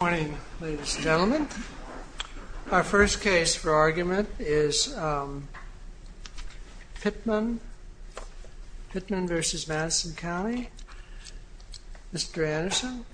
Good morning, ladies and gentlemen. Our first case for argument is Pittman v. Madison County. Mr. Anderson?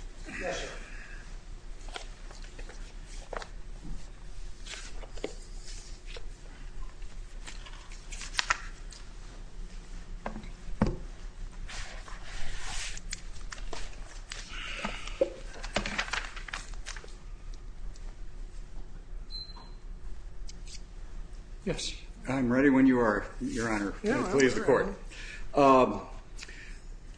Yes, I'm ready when you are, Your Honor. The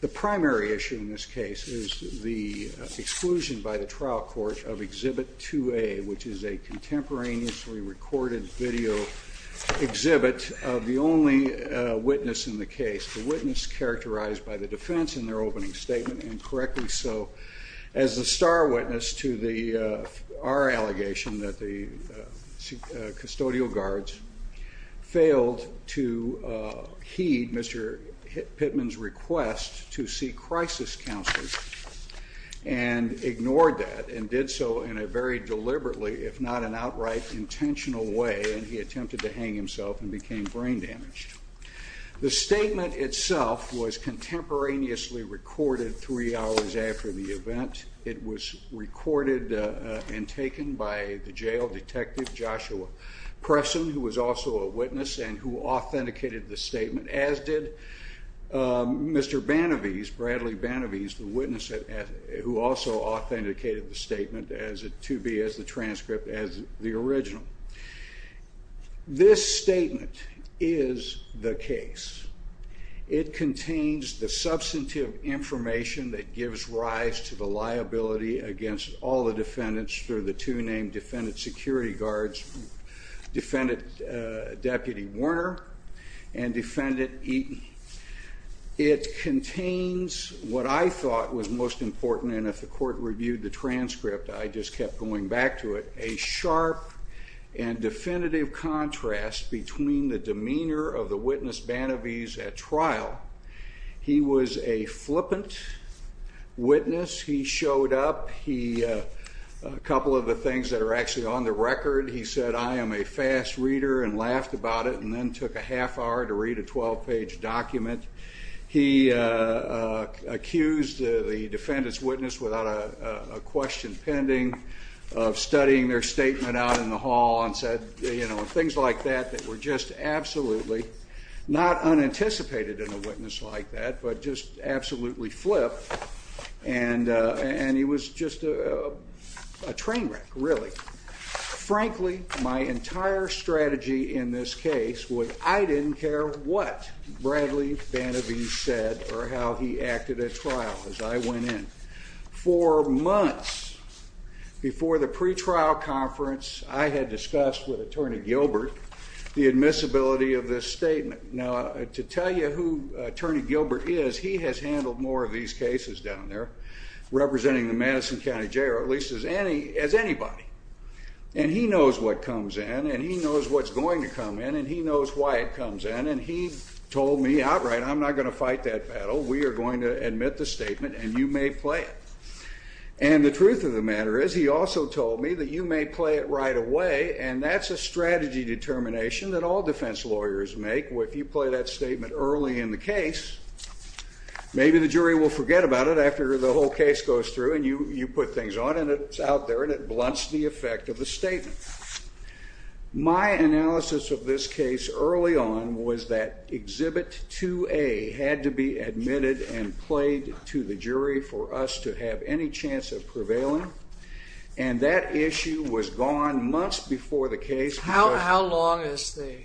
primary issue in this case is the exclusion by the trial court of Exhibit 2A, which is a contemporaneously recorded video exhibit of the only witness in the case. The witness characterized by the defense in their opening statement incorrectly so as the star witness to our allegation that the custodial guards failed to heed Mr. Pittman's request to seek crisis counseling and ignored that and did so in a very deliberately if not an outright intentional way and he attempted to hang himself and became brain damaged. The statement itself was contemporaneously recorded three hours after the event. It was recorded and taken by the jail detective, Joshua Presson, who was also a witness and who authenticated the statement as did Mr. Banavese, Bradley Banavese, the witness who also authenticated the statement to be as the transcript as the original. This statement is the case. It contains the substantive information that gives rise to the liability against all the defendants through the two named defendant security guards, defendant Deputy Warner and defendant Eaton. It contains what I thought was most important and if the court reviewed the transcript, I just kept going back to it, a sharp and definitive contrast between the demeanor of the witness, Banavese, at trial. He was a flippant witness. He showed up. He, a couple of the things that are actually on the record, he said, I am a fast reader and laughed about it and then took a half hour to read a 12 page document. He accused the defendant's witness without a question pending of studying their statement out in the hall and said, you know, things like that that were just absolutely not unanticipated in a witness like that, but just absolutely flipped. And he was just a train wreck, really. Frankly, my entire strategy in this case was I didn't care what Bradley Banavese said or how he acted at trial as I went in. For months before the pretrial conference, I had discussed with Attorney Gilbert the admissibility of this statement. Now, to tell you who Attorney Gilbert is, he has handled more of these cases down there representing the Madison County Jail, or at least as anybody. And he knows what comes in, and he knows what's going to come in, and he knows why it comes in. And he told me outright, I'm not going to fight that battle. We are going to admit the statement, and you may play it. And the truth of the matter is, he also told me that you may play it right away, and that's a strategy determination that all defense lawyers make. Well, if you play that statement early in the case, maybe the jury will forget about it after the whole case goes through, and you put things on, and it's out there, and it blunts the effect of the statement. My analysis of this case early on was that Exhibit 2A had to be admitted and played to the jury for us to have any chance of prevailing, and that issue was gone months before the case. How long is the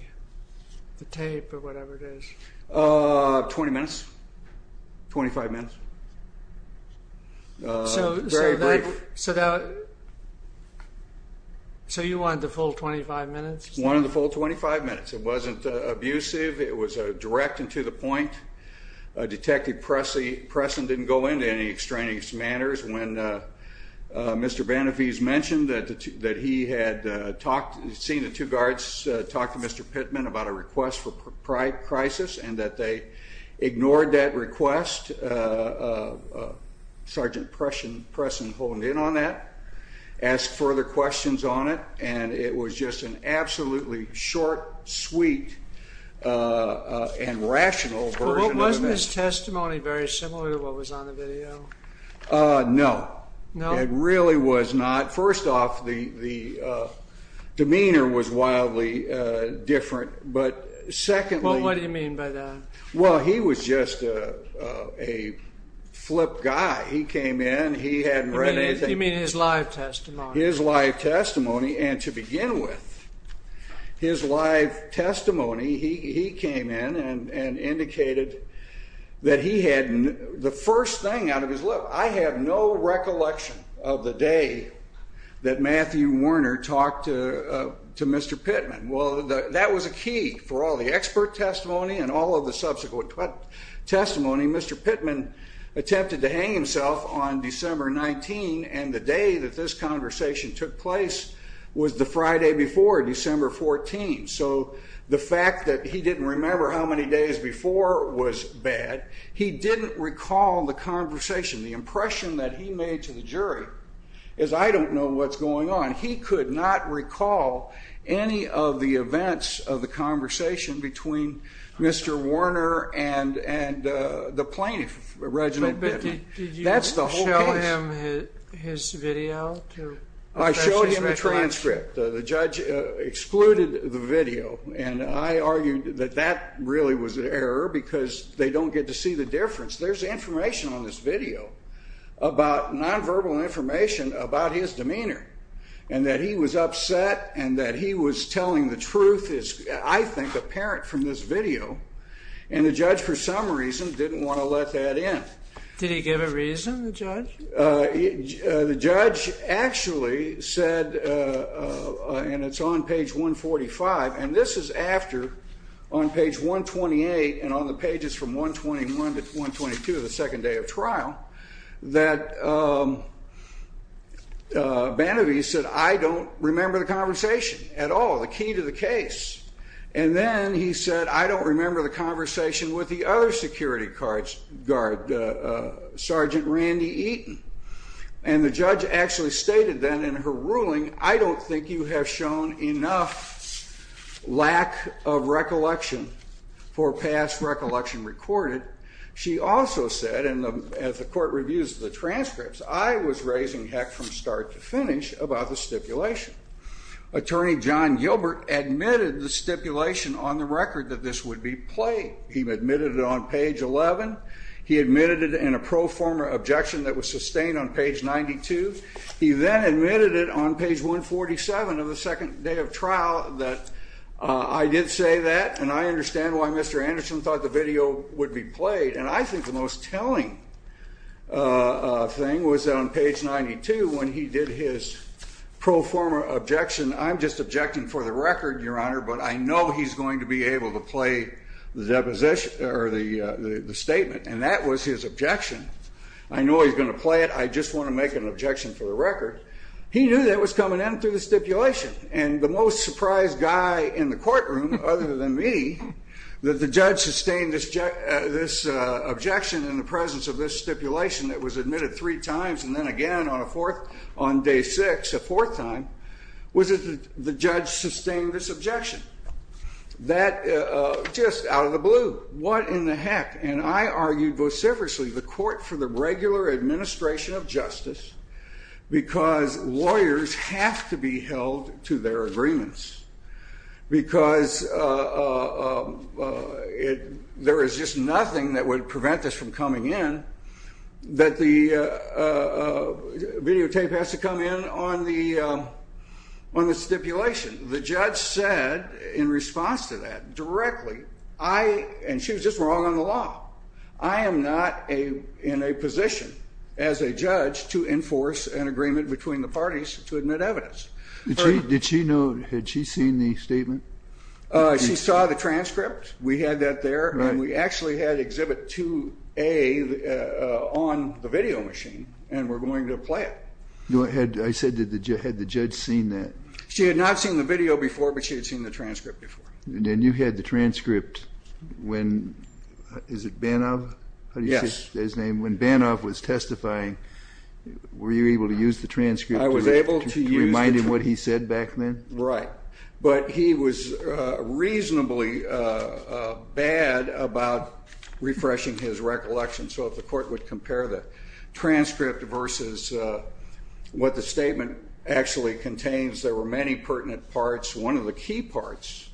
tape, or whatever it is? Twenty minutes. Twenty-five minutes. Very brief. So you wanted the full 25 minutes? One of the full 25 minutes. It wasn't abusive. It was direct and to the point. Detective Presson didn't go into any extraneous manners. When Mr. Benefiz mentioned that he had seen the two guards talk to Mr. Pittman about a request for crisis, and that they ignored that request, Sergeant Presson honed in on that, asked further questions on it, and it was just an absolutely short, sweet, and rational version of events. Wasn't his testimony very similar to what was on the video? No. It really was not. First off, the demeanor was wildly different, but secondly... Well, what do you mean by that? Well, he was just a flip guy. He came in. He hadn't read anything. You mean his live testimony? His live testimony, and to begin with, his live testimony, he came in and indicated that he had the first thing out of his lip, I have no recollection of the day that Matthew Warner talked to Mr. Pittman. Well, that was a key for all the expert testimony and all of the subsequent testimony. Mr. Pittman attempted to hang himself on December 19, and the day that this conversation took place was the Friday before, December 14. So the fact that he didn't remember how many days before was bad. He didn't recall the conversation. The impression that he made to the jury is, I don't know what's going on. He could not recall any of the events of the conversation between Mr. Warner and the plaintiff, Reginald Pittman. But did you show him his video? I showed him the transcript. The judge excluded the video, and I argued that that really was an error because they don't get to see the difference. There's information on this video about nonverbal information about his demeanor, and that he was upset and that he was telling the truth, I think, apparent from this video, and the judge, for some reason, didn't want to let that in. Did he give a reason, the judge? The judge actually said, and it's on page 145, and this is after, on page 128 and on the pages from 121 to 122, the second day of trial, that Banovi said, I don't remember the conversation at all, the key to the case. And then he said, I don't remember the conversation with the other security guard, Sergeant Randy Eaton. And the judge actually stated then in her ruling, I don't think you have shown enough lack of recollection for past recollection recorded. She also said, as the court reviews the transcripts, I was raising heck from start to finish about the stipulation. Attorney John Gilbert admitted the stipulation on the record that this would be played. He admitted it on page 11. He admitted it in a pro forma objection that was sustained on page 92. He then admitted it on page 147 of the second day of trial that I did say that, and I understand why Mr. Anderson thought the video would be played. And I think the most telling thing was that on page 92, when he did his pro forma objection, I'm just objecting for the record, Your Honor, but I know he's going to be able to play the statement. And that was his objection. I know he's going to play it. I just want to make an objection for the record. He knew that was coming in through the stipulation. And the most surprised guy in the courtroom, other than me, that the judge sustained this objection in the presence of this stipulation that was admitted three times and then again on a fourth, on day six, a fourth time, was that the judge sustained this objection. That, just out of the blue, what in the heck? And I argued vociferously, the court for the regular administration of justice, because lawyers have to be held to their agreements. Because there is just nothing that would prevent this from coming in that the videotape has to come in on the stipulation. The judge said in response to that directly, and she was just wrong on the law, I am not in a position as a judge to enforce an agreement between the parties to admit evidence. Did she know, had she seen the statement? She saw the transcript. We had that there. And we actually had exhibit 2A on the video machine and were going to play it. I said, had the judge seen that? She had not seen the video before, but she had seen the transcript before. And then you had the transcript when, is it Banov? Yes. When Banov was testifying, were you able to use the transcript to remind him what he said back then? Right. But he was reasonably bad about refreshing his recollection. So if the court would compare the transcript versus what the statement actually contains, there were many pertinent parts. One of the key parts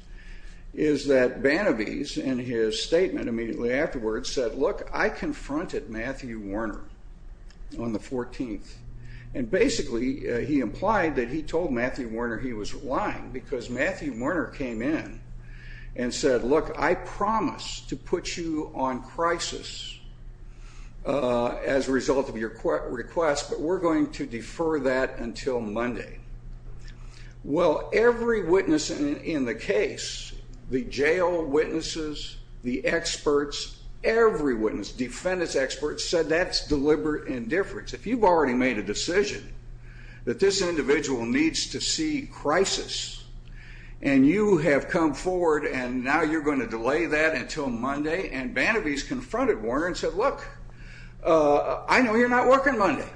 is that Banovese, in his statement immediately afterwards, said, look, I confronted Matthew Warner on the 14th. And basically, he implied that he told Matthew Warner he was lying, because Matthew Warner came in and said, look, I promise to put you on crisis as a result of your request, but we're going to defer that until Monday. Well, every witness in the case, the jail witnesses, the experts, every witness, defendant's experts, said that's deliberate indifference. If you've already made a decision that this individual needs to see crisis, and you have come forward, and now you're going to delay that until Monday. And Banovese confronted Warner and said, look, I know you're not working Monday.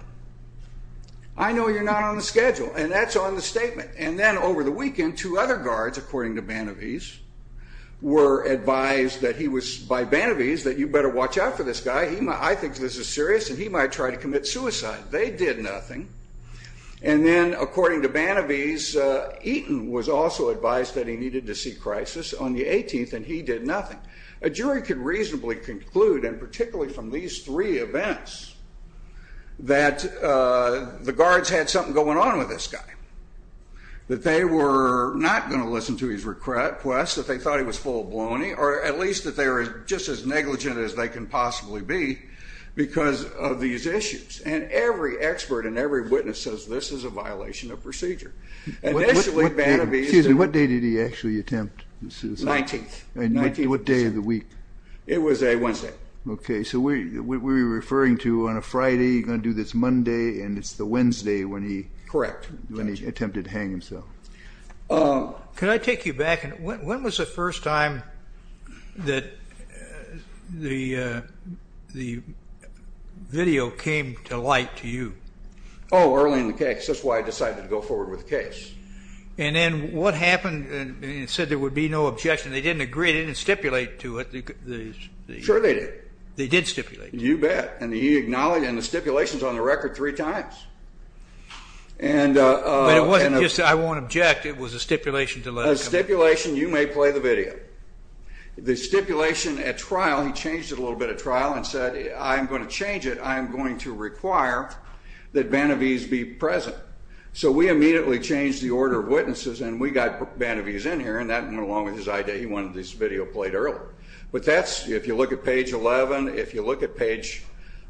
I know you're not on the schedule. And that's on the statement. And then over the weekend, two other guards, according to Banovese, were advised that he was, by Banovese, that you better watch out for this guy. I think this is serious, and he might try to commit suicide. They did nothing. And then, according to Banovese, Eaton was also advised that he needed to see crisis on the 18th, and he did nothing. A jury could reasonably conclude, and particularly from these three events, that the guards had something going on with this guy. That they were not going to listen to his request. That they thought he was full-blown. Or at least that they were just as negligent as they can possibly be because of these issues. And every expert and every witness says this is a violation of procedure. Initially, Banovese. Excuse me, what day did he actually attempt suicide? 19th. What day of the week? It was a Wednesday. Okay. So we're referring to on a Friday, you're going to do this Monday, and it's the Wednesday when he attempted to hang himself. Correct. Could I take you back? When was the first time that the video came to light to you? Oh, early in the case. That's why I decided to go forward with the case. And then what happened? It said there would be no objection. They didn't agree. They didn't stipulate to it. Sure they did. They did stipulate to it. You bet. And he acknowledged it. And the stipulation is on the record three times. But it wasn't just I won't object. It was a stipulation to let it come to light. A stipulation, you may play the video. The stipulation at trial, he changed it a little bit at trial and said, I'm going to change it. I'm going to require that Banovese be present. So we immediately changed the order of witnesses, and we got Banovese in here, and that went along with his idea. He wanted this video played earlier. If you look at page 11, if you look at page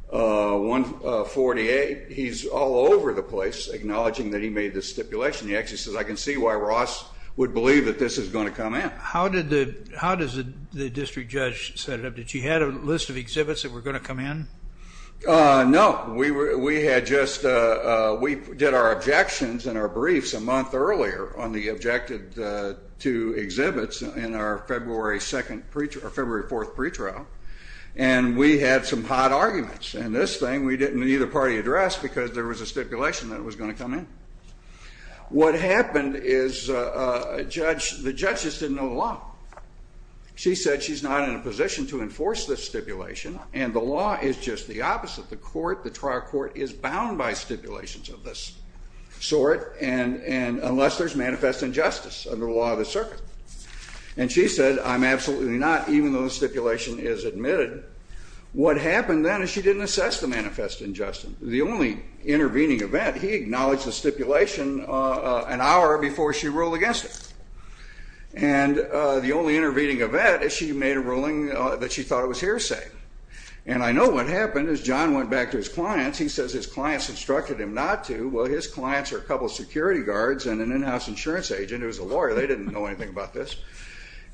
148, he's all over the place acknowledging that he made this stipulation. He actually says, I can see why Ross would believe that this is going to come in. How did the district judge set it up? Did she have a list of exhibits that were going to come in? No. We did our objections and our briefs a month earlier on the objected two exhibits in our February 4th pretrial, and we had some hot arguments. And this thing we didn't need a party address because there was a stipulation that was going to come in. What happened is the judge just didn't know the law. She said she's not in a position to enforce this stipulation, and the law is just the opposite. The court, the trial court, is bound by stipulations of this sort unless there's manifest injustice under the law of the circuit. And she said, I'm absolutely not, even though the stipulation is admitted. What happened then is she didn't assess the manifest injustice. The only intervening event, he acknowledged the stipulation an hour before she ruled against it. And the only intervening event is she made a ruling that she thought it was hearsay. And I know what happened is John went back to his clients. He says his clients instructed him not to. Well, his clients are a couple of security guards and an in-house insurance agent who is a lawyer. They didn't know anything about this.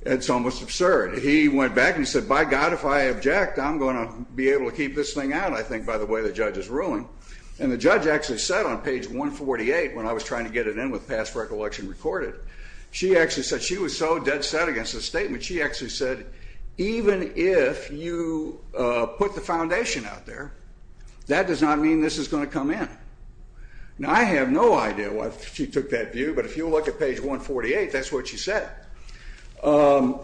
It's almost absurd. He went back and he said, by God, if I object, I'm going to be able to keep this thing out, I think, by the way the judge is ruling. And the judge actually said on page 148, when I was trying to get it in with past recollection recorded, she actually said she was so dead set against the statement, she actually said even if you put the foundation out there, that does not mean this is going to come in. Now, I have no idea why she took that view, but if you look at page 148, that's what she said. The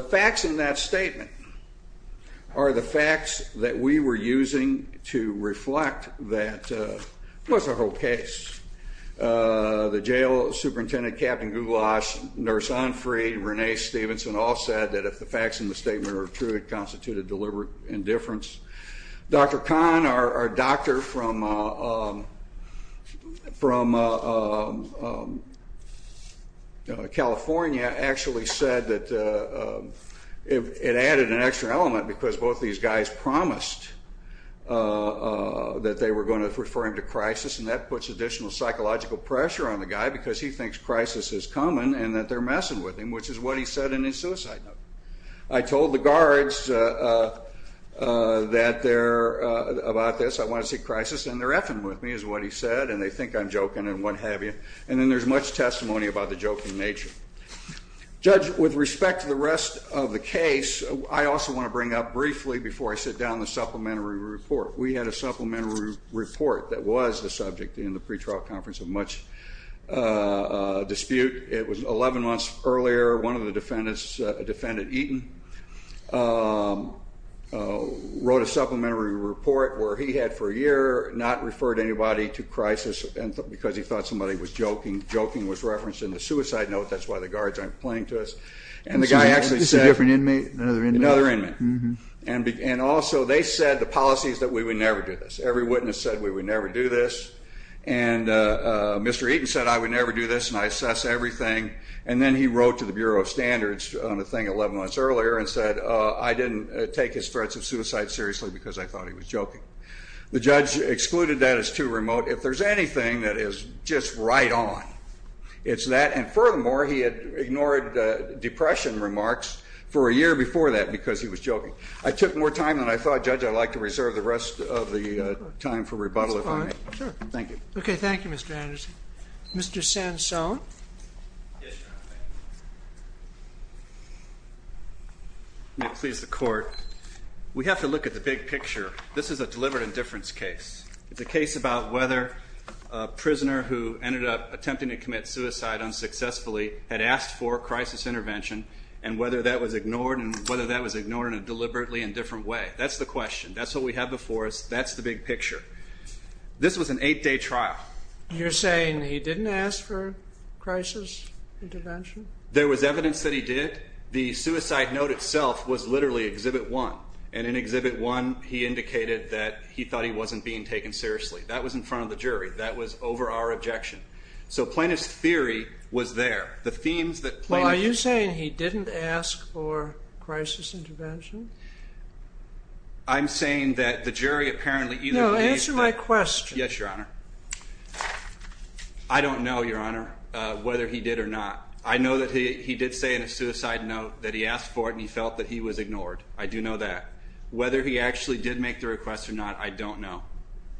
facts in that statement are the facts that we were using to reflect that, well, it's a whole case. The jail superintendent, Captain Goulash, Nurse Onfrey, Renee Stevenson, all said that if the facts in the statement are true, it constituted deliberate indifference. Dr. Kahn, our doctor from California, actually said that it added an extra element because both these guys promised that they were going to refer him to crisis, and that puts additional psychological pressure on the guy because he thinks crisis is coming and that they're messing with him, which is what he said in his suicide note. I told the guards about this, I want to see crisis, and they're effing with me, is what he said, and they think I'm joking and what have you. And then there's much testimony about the joking nature. Judge, with respect to the rest of the case, I also want to bring up briefly, before I sit down, the supplementary report. We had a supplementary report that was the subject in the pretrial conference of much dispute. It was 11 months earlier. One of the defendants, a defendant, Eaton, wrote a supplementary report where he had for a year not referred anybody to crisis because he thought somebody was joking. Joking was referenced in the suicide note. That's why the guards aren't playing to us. And the guy actually said... It's a different inmate? Another inmate. And also they said the policies that we would never do this. Every witness said we would never do this. And Mr. Eaton said I would never do this and I assess everything. And then he wrote to the Bureau of Standards on the thing 11 months earlier and said I didn't take his threats of suicide seriously because I thought he was joking. The judge excluded that as too remote. If there's anything that is just right on, it's that. And furthermore, he had ignored depression remarks for a year before that because he was joking. I took more time than I thought. Judge, I'd like to reserve the rest of the time for rebuttal if I may. Thank you. Okay. Thank you, Mr. Anderson. Mr. Sansone. May it please the Court. We have to look at the big picture. This is a deliberate indifference case. It's a case about whether a prisoner who ended up attempting to commit suicide unsuccessfully had asked for crisis intervention and whether that was ignored and whether that was ignored in a deliberately indifferent way. That's the question. That's what we have before us. That's the big picture. This was an eight-day trial. You're saying he didn't ask for crisis intervention? There was evidence that he did. The suicide note itself was literally Exhibit 1. And in Exhibit 1, he indicated that he thought he wasn't being taken seriously. That was in front of the jury. That was over our objection. So plaintiff's theory was there. Are you saying he didn't ask for crisis intervention? I'm saying that the jury apparently either believed that. No, answer my question. Yes, Your Honor. I don't know, Your Honor, whether he did or not. I know that he did say in his suicide note that he asked for it and he felt that he was ignored. I do know that. Whether he actually did make the request or not, I don't know.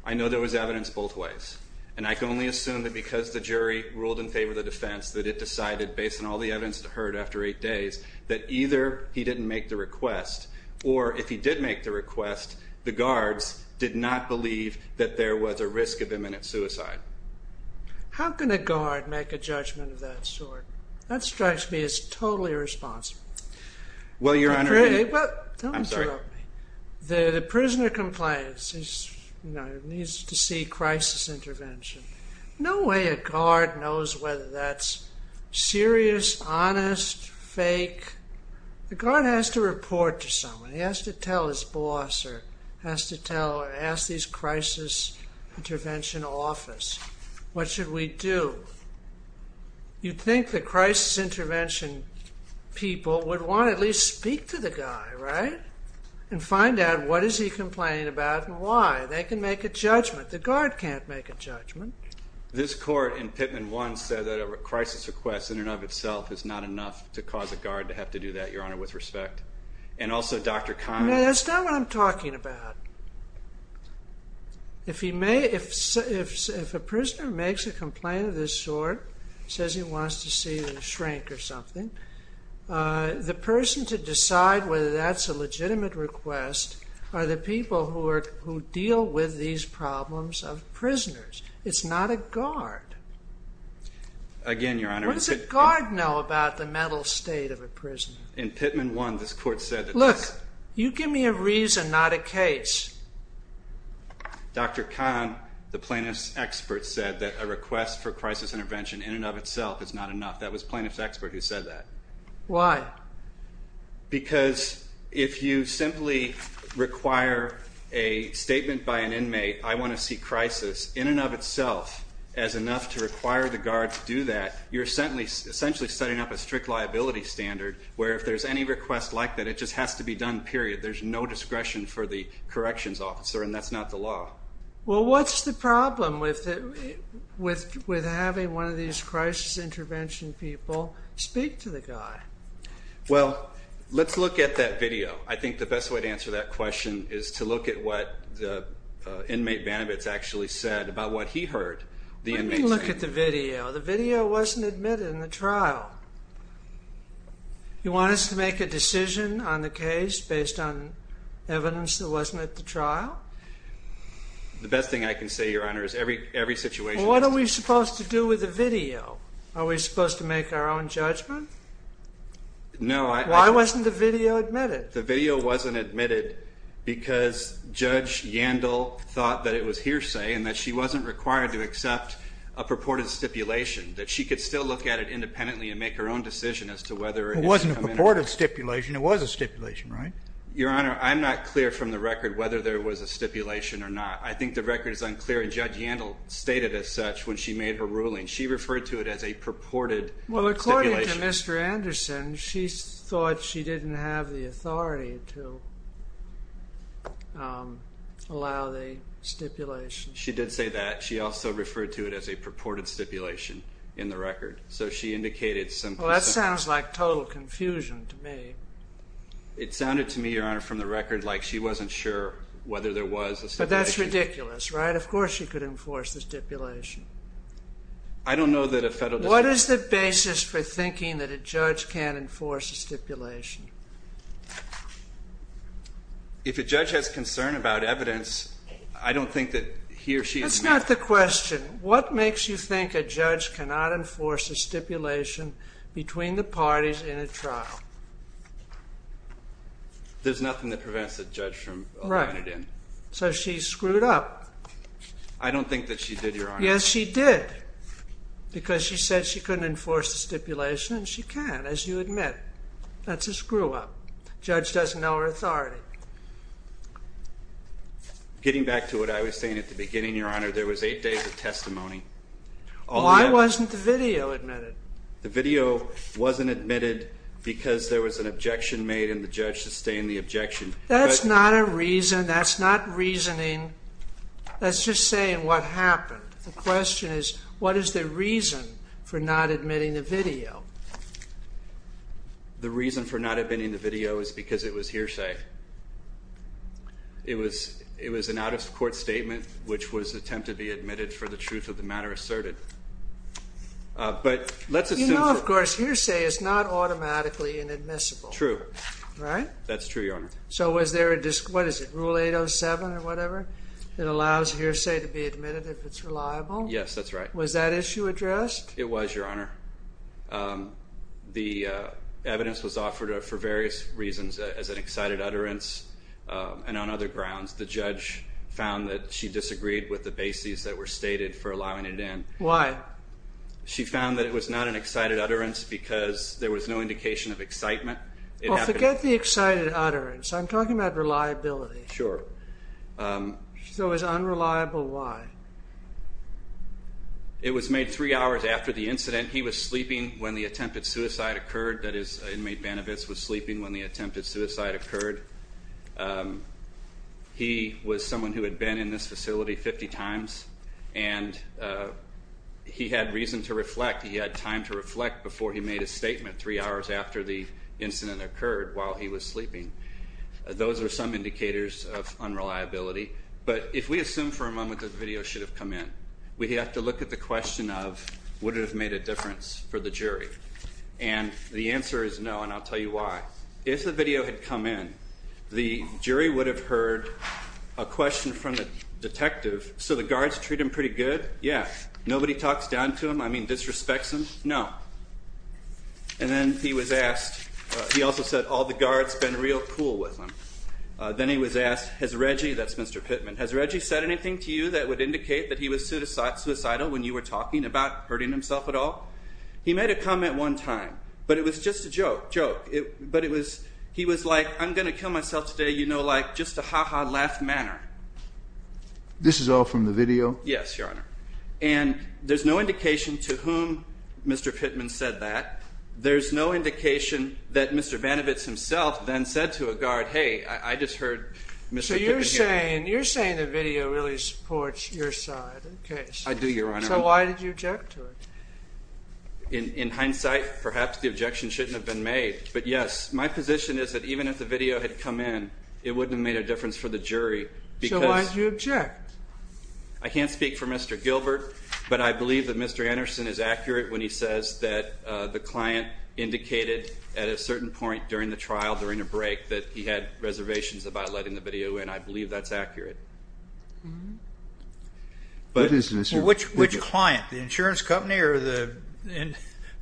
I know there was evidence both ways. And I can only assume that because the jury ruled in favor of the defense, that it decided, based on all the evidence heard after eight days, that either he didn't make the request or, if he did make the request, the guards did not believe that there was a risk of imminent suicide. How can a guard make a judgment of that sort? That strikes me as totally irresponsible. Well, Your Honor, I'm sorry. Don't interrupt me. The prisoner complains he needs to see crisis intervention. No way a guard knows whether that's serious, honest, fake. The guard has to report to someone. He has to tell his boss or has to tell or ask his crisis intervention office. What should we do? You'd think the crisis intervention people would want to at least speak to the guy, right, and find out what is he complaining about and why. They can make a judgment. The guard can't make a judgment. This court in Pittman 1 said that a crisis request in and of itself is not enough to cause a guard to have to do that, Your Honor, with respect. And also Dr. Kahn. No, that's not what I'm talking about. If a prisoner makes a complaint of this sort, says he wants to see the shrink or something, the person to decide whether that's a legitimate request are the people who deal with these problems of prisoners. It's not a guard. Again, Your Honor. What does a guard know about the mental state of a prisoner? In Pittman 1, this court said that this You give me a reason, not a case. Dr. Kahn, the plaintiff's expert, said that a request for crisis intervention in and of itself is not enough. That was the plaintiff's expert who said that. Why? Because if you simply require a statement by an inmate, I want to see crisis in and of itself as enough to require the guard to do that, you're essentially setting up a strict liability standard where if there's any request like that, it just has to be done, period. There's no discretion for the corrections officer, and that's not the law. Well, what's the problem with having one of these crisis intervention people speak to the guy? Well, let's look at that video. I think the best way to answer that question is to look at what the inmate Bannabas actually said Let me look at the video. The video wasn't admitted in the trial. You want us to make a decision on the case based on evidence that wasn't at the trial? The best thing I can say, Your Honor, is every situation... What are we supposed to do with the video? Are we supposed to make our own judgment? No, I... Why wasn't the video admitted? The video wasn't admitted because Judge Yandel thought that it was hearsay and that she wasn't required to accept a purported stipulation, that she could still look at it independently and make her own decision as to whether... It wasn't a purported stipulation. It was a stipulation, right? Your Honor, I'm not clear from the record whether there was a stipulation or not. I think the record is unclear, and Judge Yandel stated as such when she made her ruling. She referred to it as a purported stipulation. Well, according to Mr. Anderson, she thought she didn't have the authority to allow the stipulation. She did say that. She also referred to it as a purported stipulation in the record. So she indicated some... Well, that sounds like total confusion to me. It sounded to me, Your Honor, from the record like she wasn't sure whether there was a stipulation. But that's ridiculous, right? Of course she could enforce the stipulation. I don't know that a federal... What is the basis for thinking that a judge can't enforce a stipulation? If a judge has concern about evidence, I don't think that he or she is... That's not the question. What makes you think a judge cannot enforce a stipulation between the parties in a trial? There's nothing that prevents a judge from allowing it in. Right. So she screwed up. I don't think that she did, Your Honor. Yes, she did. Because she said she couldn't enforce the stipulation, and she can, as you admit. That's a screw-up. A judge doesn't know her authority. Getting back to what I was saying at the beginning, Your Honor, there was eight days of testimony. Why wasn't the video admitted? The video wasn't admitted because there was an objection made, and the judge sustained the objection. That's not a reason. That's not reasoning. That's just saying what happened. The question is, what is the reason for not admitting the video? The reason for not admitting the video is because it was hearsay. It was an out-of-court statement, which was an attempt to be admitted for the truth of the matter asserted. But let's assume... You know, of course, hearsay is not automatically inadmissible. True. Right? That's true, Your Honor. So was there a dis... What is it, Rule 807 or whatever that allows hearsay to be admitted if it's reliable? Yes, that's right. Was that issue addressed? It was, Your Honor. The evidence was offered for various reasons, as an excited utterance and on other grounds. The judge found that she disagreed with the bases that were stated for allowing it in. Why? She found that it was not an excited utterance because there was no indication of excitement. Well, forget the excited utterance. I'm talking about reliability. Sure. So it was unreliable, why? It was made three hours after the incident. He was sleeping when the attempted suicide occurred. That is, inmate Benevitz was sleeping when the attempted suicide occurred. He was someone who had been in this facility 50 times, and he had reason to reflect. He had time to reflect before he made a statement three hours after the incident occurred while he was sleeping. Those are some indicators of unreliability. But if we assume for a moment that the video should have come in, we have to look at the question of, would it have made a difference for the jury? And the answer is no, and I'll tell you why. If the video had come in, the jury would have heard a question from the detective, so the guards treat him pretty good? Yeah. Nobody talks down to him? I mean, disrespects him? No. And then he was asked, he also said, all the guards have been real cool with him. Then he was asked, has Reggie, that's Mr. Pittman, has Reggie said anything to you that would indicate that he was suicidal when you were talking about hurting himself at all? He made a comment one time, but it was just a joke. But he was like, I'm going to kill myself today, you know, like just a ha-ha laugh manner. This is all from the video? Yes, Your Honor. And there's no indication to whom Mr. Pittman said that. There's no indication that Mr. Benevitz himself then said to a guard, hey, I just heard Mr. Pittman. So you're saying the video really supports your side of the case? I do, Your Honor. So why did you object to it? In hindsight, perhaps the objection shouldn't have been made. But yes, my position is that even if the video had come in, it wouldn't have made a difference for the jury. So why did you object? I can't speak for Mr. Gilbert, but I believe that Mr. Anderson is accurate when he says that the client indicated at a certain point during the trial, during a break, that he had reservations about letting the video in. I believe that's accurate. Which client, the insurance company or the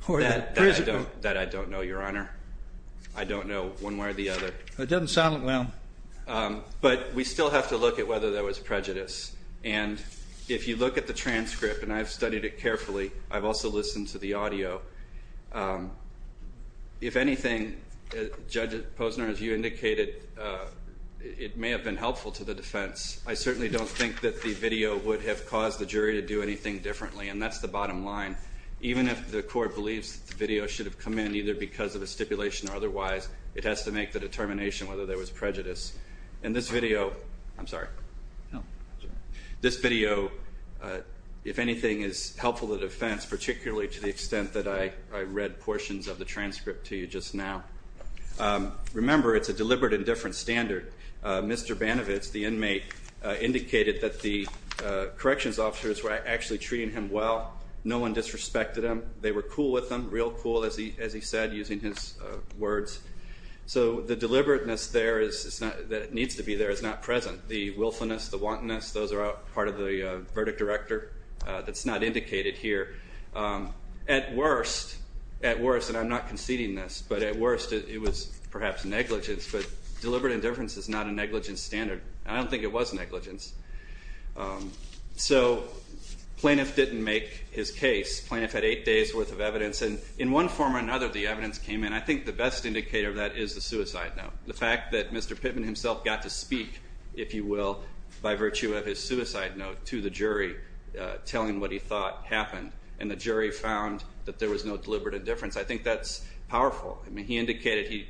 prison? That I don't know, Your Honor. I don't know one way or the other. It doesn't sound like one. But we still have to look at whether there was prejudice. And if you look at the transcript, and I've studied it carefully, I've also listened to the audio. If anything, Judge Posner, as you indicated, it may have been helpful to the defense. I certainly don't think that the video would have caused the jury to do anything differently, and that's the bottom line. Even if the court believes that the video should have come in, either because of a stipulation or otherwise, it has to make the determination whether there was prejudice. In this video, I'm sorry, this video, if anything, is helpful to the defense, particularly to the extent that I read portions of the transcript to you just now. Remember, it's a deliberate and different standard. Mr. Banovitz, the inmate, indicated that the corrections officers were actually treating him well. No one disrespected him. They were cool with him, real cool, as he said, using his words. So the deliberateness there that needs to be there is not present. The willfulness, the wantonness, those are all part of the verdict director that's not indicated here. At worst, at worst, and I'm not conceding this, but at worst it was perhaps negligence, but deliberate indifference is not a negligence standard. I don't think it was negligence. So plaintiff didn't make his case. Plaintiff had eight days' worth of evidence, and in one form or another the evidence came in. I think the best indicator of that is the suicide note. The fact that Mr. Pittman himself got to speak, if you will, by virtue of his suicide note to the jury, telling what he thought happened, and the jury found that there was no deliberate indifference, I think that's powerful. I mean, he indicated he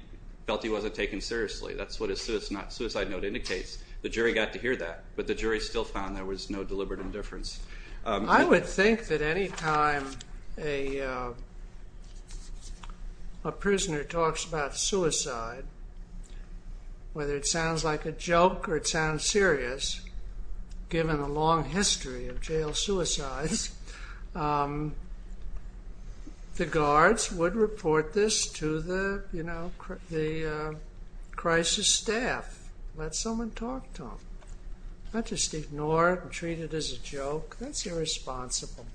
felt he wasn't taken seriously. That's what his suicide note indicates. The jury got to hear that, but the jury still found there was no deliberate indifference. I would think that any time a prisoner talks about suicide, whether it sounds like a joke or it sounds serious, given the long history of jail suicides, the guards would report this to the crisis staff, let someone talk to them. Not just ignore it and treat it as a joke. That's irresponsible.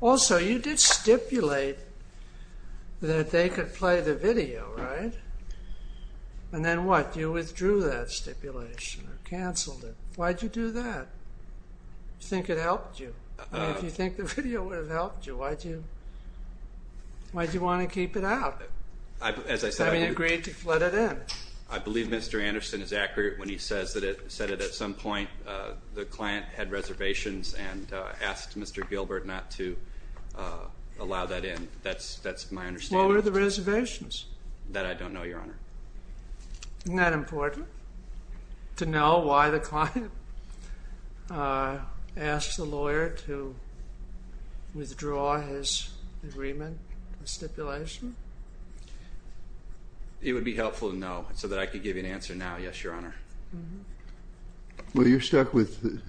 Also, you did stipulate that they could play the video, right? And then what? You withdrew that stipulation or canceled it. Why'd you do that? You think it helped you? I mean, if you think the video would have helped you, why'd you want to keep it out? I mean, you agreed to let it in. I believe Mr. Anderson is accurate when he says that at some point the client had reservations and asked Mr. Gilbert not to allow that in. That's my understanding. What were the reservations? That I don't know, Your Honor. Isn't that important? To know why the client asked the lawyer to withdraw his agreement, the stipulation? It would be helpful to know so that I could give you an answer now, yes, Your Honor. Well, you're stuck with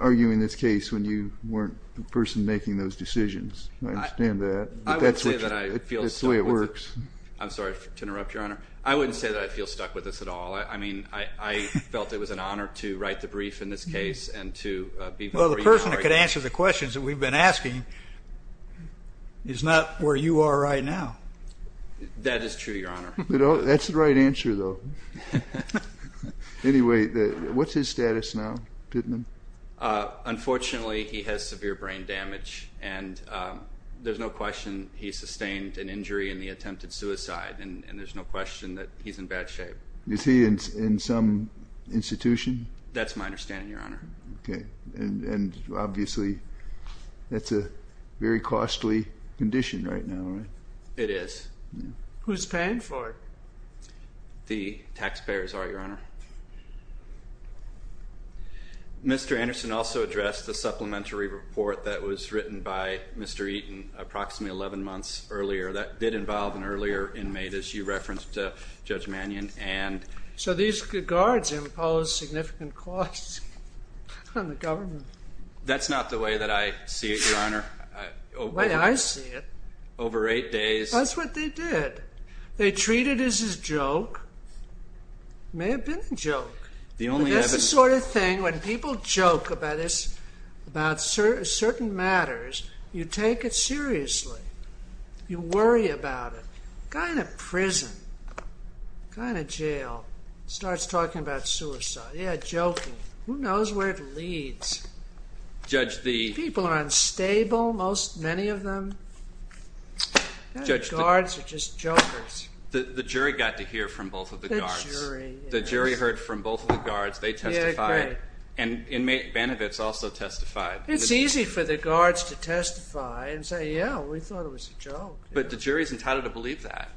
arguing this case when you weren't the person making those decisions. I understand that. I wouldn't say that I feel stuck with it. That's the way it works. I'm sorry to interrupt, Your Honor. I wouldn't say that I feel stuck with this at all. I mean, I felt it was an honor to write the brief in this case and to be free. Well, the person that could answer the questions that we've been asking is not where you are right now. That is true, Your Honor. That's the right answer, though. Anyway, what's his status now, Pittman? Unfortunately, he has severe brain damage, and there's no question he sustained an injury in the attempted suicide, and there's no question that he's in bad shape. Is he in some institution? That's my understanding, Your Honor. And obviously, that's a very costly condition right now, right? It is. Who's paying for it? The taxpayers are, Your Honor. Mr. Anderson also addressed the supplementary report that was written by Mr. Eaton approximately 11 months earlier that did involve an earlier inmate, as you referenced, Judge Mannion. So these guards impose significant costs on the government. That's not the way that I see it, Your Honor. The way I see it? Over eight days. That's what they did. They treat it as a joke. It may have been a joke. That's the sort of thing when people joke about certain matters, you take it seriously. You worry about it. A guy in a prison, a guy in a jail, starts talking about suicide. Yeah, joking. Who knows where it leads? People are unstable, many of them. Guards are just jokers. The jury got to hear from both of the guards. The jury, yes. The jury heard from both of the guards. They testified. Yeah, I agree. And inmate Banovitz also testified. It's easy for the guards to testify and say, yeah, we thought it was a joke. But the jury is entitled to believe that.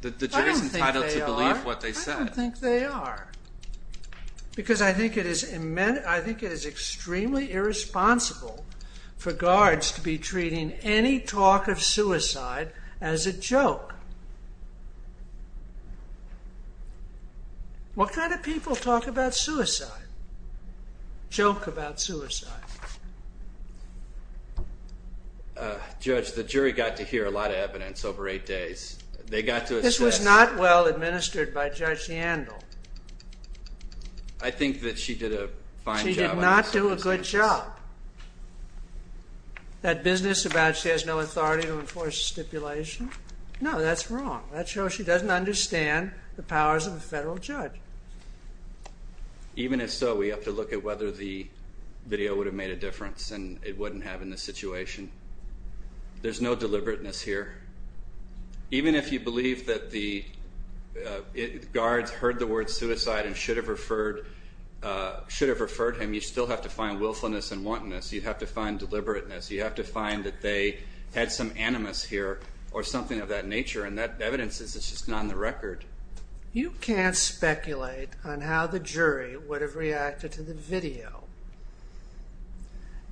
The jury is entitled to believe what they said. I don't think they are. Because I think it is extremely irresponsible for guards to be treating any talk of suicide as a joke. What kind of people talk about suicide, joke about suicide? Judge, the jury got to hear a lot of evidence over eight days. They got to assess. This was not well administered by Judge Yandel. I think that she did a fine job. She did not do a good job. That business about she has no authority to enforce stipulation, no, that's wrong. That shows she doesn't understand the powers of a federal judge. Even if so, we have to look at whether the video would have made a difference and it wouldn't have in this situation. There's no deliberateness here. Even if you believe that the guards heard the word suicide and should have referred him, you still have to find willfulness and wantonness. You have to find deliberateness. You have to find that they had some animus here or something of that nature. And that evidence is just not on the record. You can't speculate on how the jury would have reacted to the video.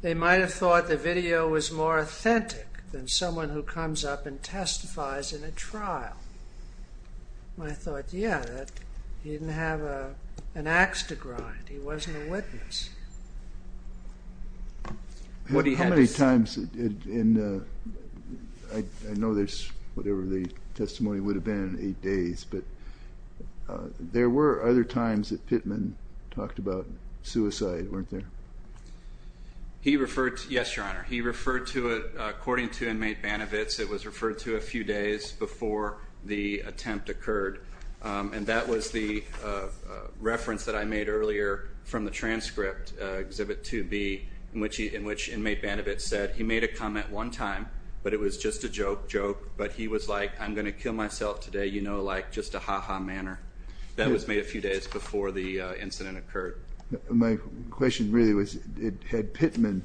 They might have thought the video was more authentic than someone who comes up and testifies in a trial. I thought, yeah, he didn't have an ax to grind. He wasn't a witness. How many times in the, I know there's, whatever the testimony would have been, eight days, but there were other times that Pittman talked about suicide, weren't there? He referred to, yes, Your Honor. He referred to it, according to inmate Banavitz, it was referred to a few days before the attempt occurred. And that was the reference that I made earlier from the transcript, Exhibit 2B, in which inmate Banavitz said he made a comment one time, but it was just a joke, joke, but he was like, I'm going to kill myself today, you know, like just a ha-ha manner. That was made a few days before the incident occurred. My question really was, had Pittman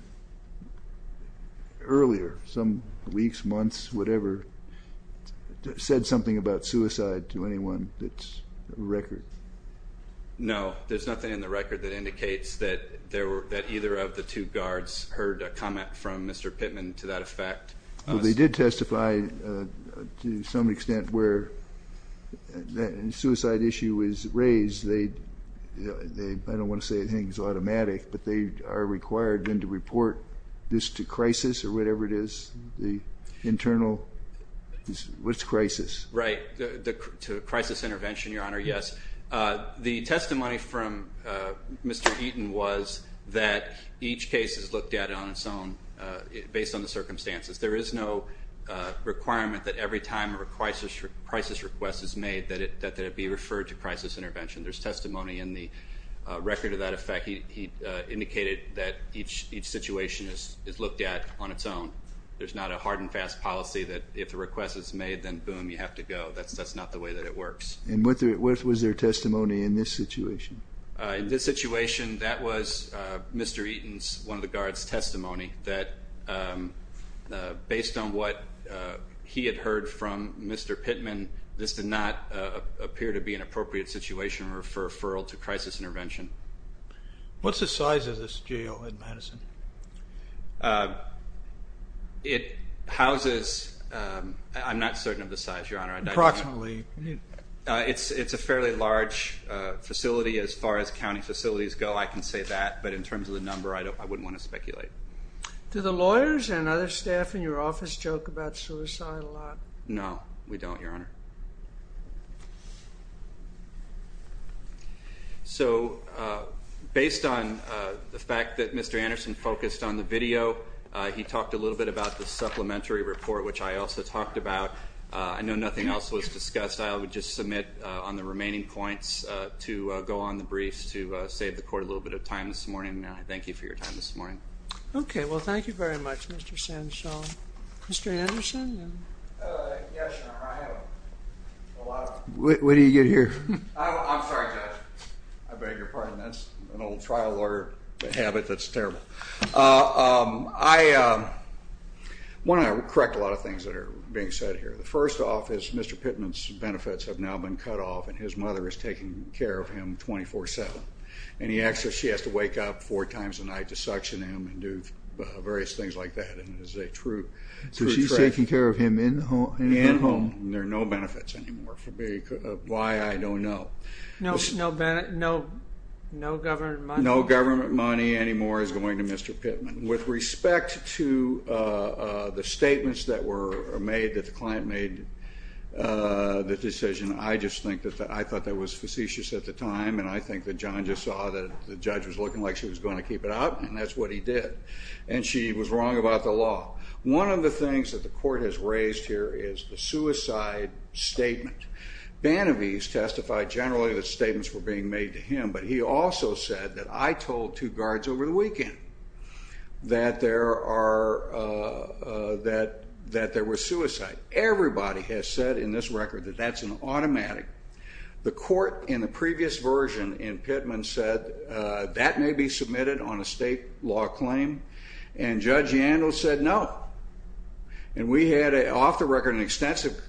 earlier, some weeks, months, whatever, said something about suicide to anyone that's record? No. There's nothing in the record that indicates that either of the two guards heard a comment from Mr. Pittman to that effect. Well, they did testify to some extent where the suicide issue was raised. They, I don't want to say anything's automatic, but they are required then to report this to Crisis or whatever it is, the internal, which crisis? Right, to Crisis Intervention, Your Honor, yes. The testimony from Mr. Eaton was that each case is looked at on its own, based on the circumstances. There is no requirement that every time a crisis request is made that it be referred to Crisis Intervention. There's testimony in the record of that effect. He indicated that each situation is looked at on its own. There's not a hard and fast policy that if a request is made, then boom, you have to go. That's not the way that it works. And what was their testimony in this situation? In this situation, that was Mr. Eaton's, one of the guards' testimony, that based on what he had heard from Mr. Pittman, this did not appear to be an appropriate situation for referral to Crisis Intervention. What's the size of this jail in Madison? It houses, I'm not certain of the size, Your Honor. Approximately. It's a fairly large facility as far as county facilities go, I can say that. But in terms of the number, I wouldn't want to speculate. Do the lawyers and other staff in your office joke about suicide a lot? No, we don't, Your Honor. So based on the fact that Mr. Anderson focused on the video, he talked a little bit about the supplementary report, which I also talked about. I know nothing else was discussed. I would just submit on the remaining points to go on the briefs to save the Court a little bit of time this morning, and I thank you for your time this morning. Okay. Well, thank you very much, Mr. Sandshaw. Mr. Anderson? Yes, Your Honor. When do you get here? I'm sorry, Judge. I beg your pardon. That's an old trial lawyer habit that's terrible. I want to correct a lot of things that are being said here. The first off is Mr. Pittman's benefits have now been cut off, and his mother is taking care of him 24-7. And she has to wake up four times a night to suction him and do various things like that, and it is a true tragedy. She's taking care of him in the home? In the home. There are no benefits anymore for me. Why, I don't know. No government money? No government money anymore is going to Mr. Pittman. With respect to the statements that were made, that the client made the decision, I just think that I thought that was facetious at the time, and I think that John just saw that the judge was looking like she was going to keep it out, and that's what he did. And she was wrong about the law. One of the things that the court has raised here is the suicide statement. Bannevies testified generally that statements were being made to him, but he also said that I told two guards over the weekend that there were suicides. Everybody has said in this record that that's an automatic. The court in the previous version in Pittman said that may be submitted on a state law claim, and Judge Yandell said no. And we had, off the record, an extensive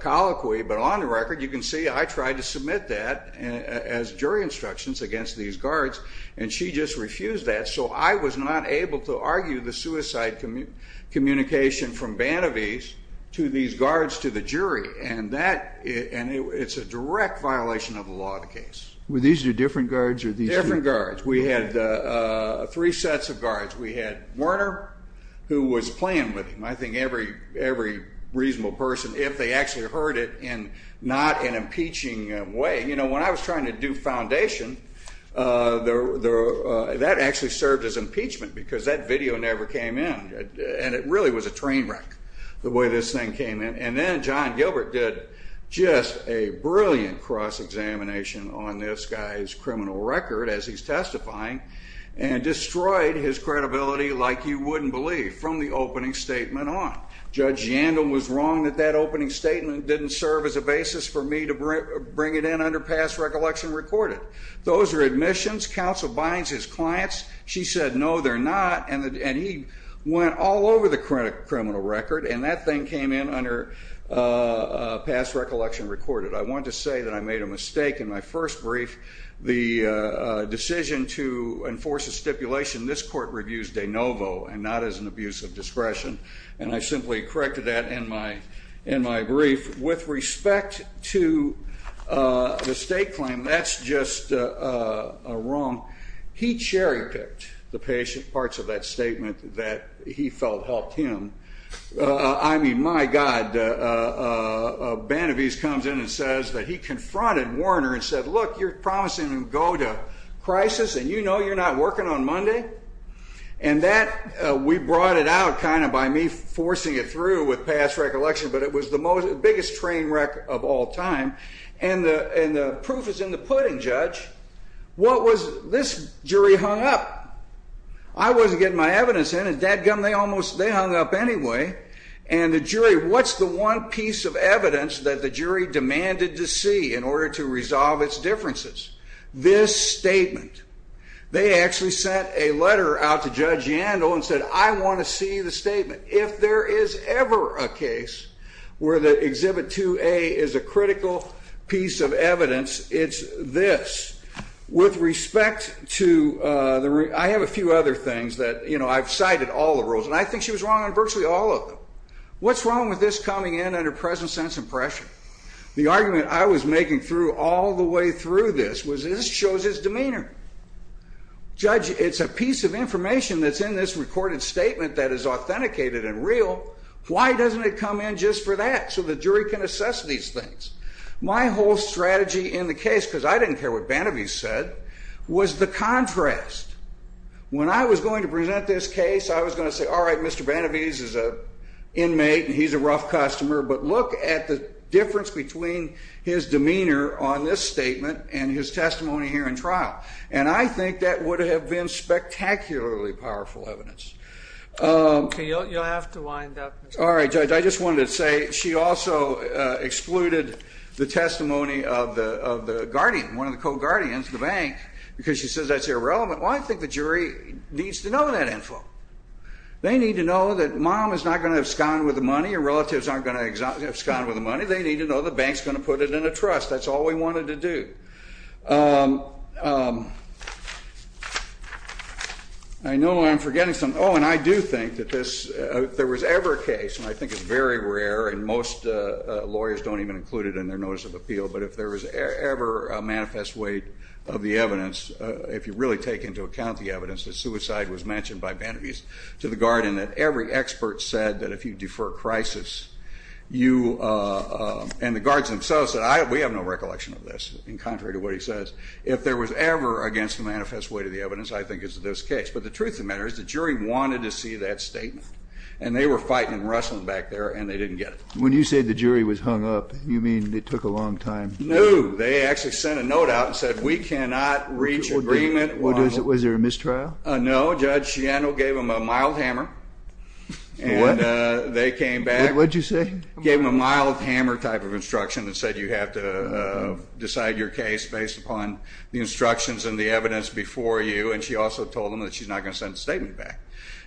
colloquy, but on the record you can see I tried to submit that as jury instructions against these guards, and she just refused that, so I was not able to argue the suicide communication from Bannevies to these guards to the jury, and it's a direct violation of the law of the case. Were these your different guards? Different guards. We had three sets of guards. We had Werner, who was playing with him. I think every reasonable person, if they actually heard it, in not an impeaching way. You know, when I was trying to do foundation, that actually served as impeachment because that video never came in, and it really was a train wreck the way this thing came in. And then John Gilbert did just a brilliant cross-examination on this guy's credibility like you wouldn't believe from the opening statement on. Judge Yandell was wrong that that opening statement didn't serve as a basis for me to bring it in under past recollection recorded. Those are admissions. Counsel binds his clients. She said, no, they're not, and he went all over the criminal record, and that thing came in under past recollection recorded. I want to say that I made a mistake in my first brief. The decision to enforce a stipulation, this court reviews de novo and not as an abuse of discretion, and I simply corrected that in my brief. With respect to the state claim, that's just wrong. He cherry-picked the patient parts of that statement that he felt helped him. I mean, my God, Benavise comes in and says that he confronted Werner and said, look, you're promising to go to crisis, and you know you're not working on Monday. And that we brought it out kind of by me forcing it through with past recollection, but it was the biggest train wreck of all time. And the proof is in the pudding, Judge. What was this jury hung up? I wasn't getting my evidence in, and dadgum, they hung up anyway. And the jury, what's the one piece of evidence that the jury demanded to see in order to resolve its differences? This statement. They actually sent a letter out to Judge Yandel and said, I want to see the statement. If there is ever a case where the Exhibit 2A is a critical piece of evidence, it's this. With respect to the room, I have a few other things that, you know, I've cited all the rules, and I think she was wrong on virtually all of them. What's wrong with this coming in under present sense and pressure? The argument I was making through all the way through this was this shows its demeanor. Judge, it's a piece of information that's in this recorded statement that is authenticated and real. Why doesn't it come in just for that so the jury can assess these things? My whole strategy in the case, because I didn't care what Banavese said, was the contrast. When I was going to present this case, I was going to say, all right, Mr. Banavese is an inmate and he's a rough customer, but look at the difference between his demeanor on this statement and his testimony here in trial. And I think that would have been spectacularly powerful evidence. Okay, you'll have to wind up. All right, Judge. I just wanted to say she also excluded the testimony of the guardian, one of the co-guardians, the bank, because she says that's irrelevant. Well, I think the jury needs to know that info. They need to know that mom is not going to have sconed with the money, and relatives aren't going to have sconed with the money. They need to know the bank is going to put it in a trust. That's all we wanted to do. I know I'm forgetting something. Oh, and I do think that if there was ever a case, and I think it's very rare, and most lawyers don't even include it in their notice of appeal, but if there was ever a manifest weight of the evidence, if you really take into account the evidence that suicide was mentioned by And the guards themselves said, we have no recollection of this, in contrary to what he says. If there was ever against the manifest weight of the evidence, I think it's this case. But the truth of the matter is the jury wanted to see that statement, and they were fighting and wrestling back there, and they didn't get it. When you say the jury was hung up, you mean it took a long time? No. They actually sent a note out and said, we cannot reach agreement. Was there a mistrial? No. Well, Judge Shiano gave them a mild hammer. What? And they came back. What did you say? Gave them a mild hammer type of instruction that said you have to decide your case based upon the instructions and the evidence before you, and she also told them that she's not going to send the statement back.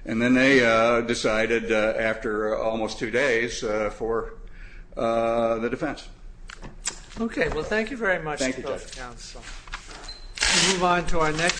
And then they decided after almost two days for the defense. Okay. Well, thank you very much. Thank you, Judge. Move on to our next.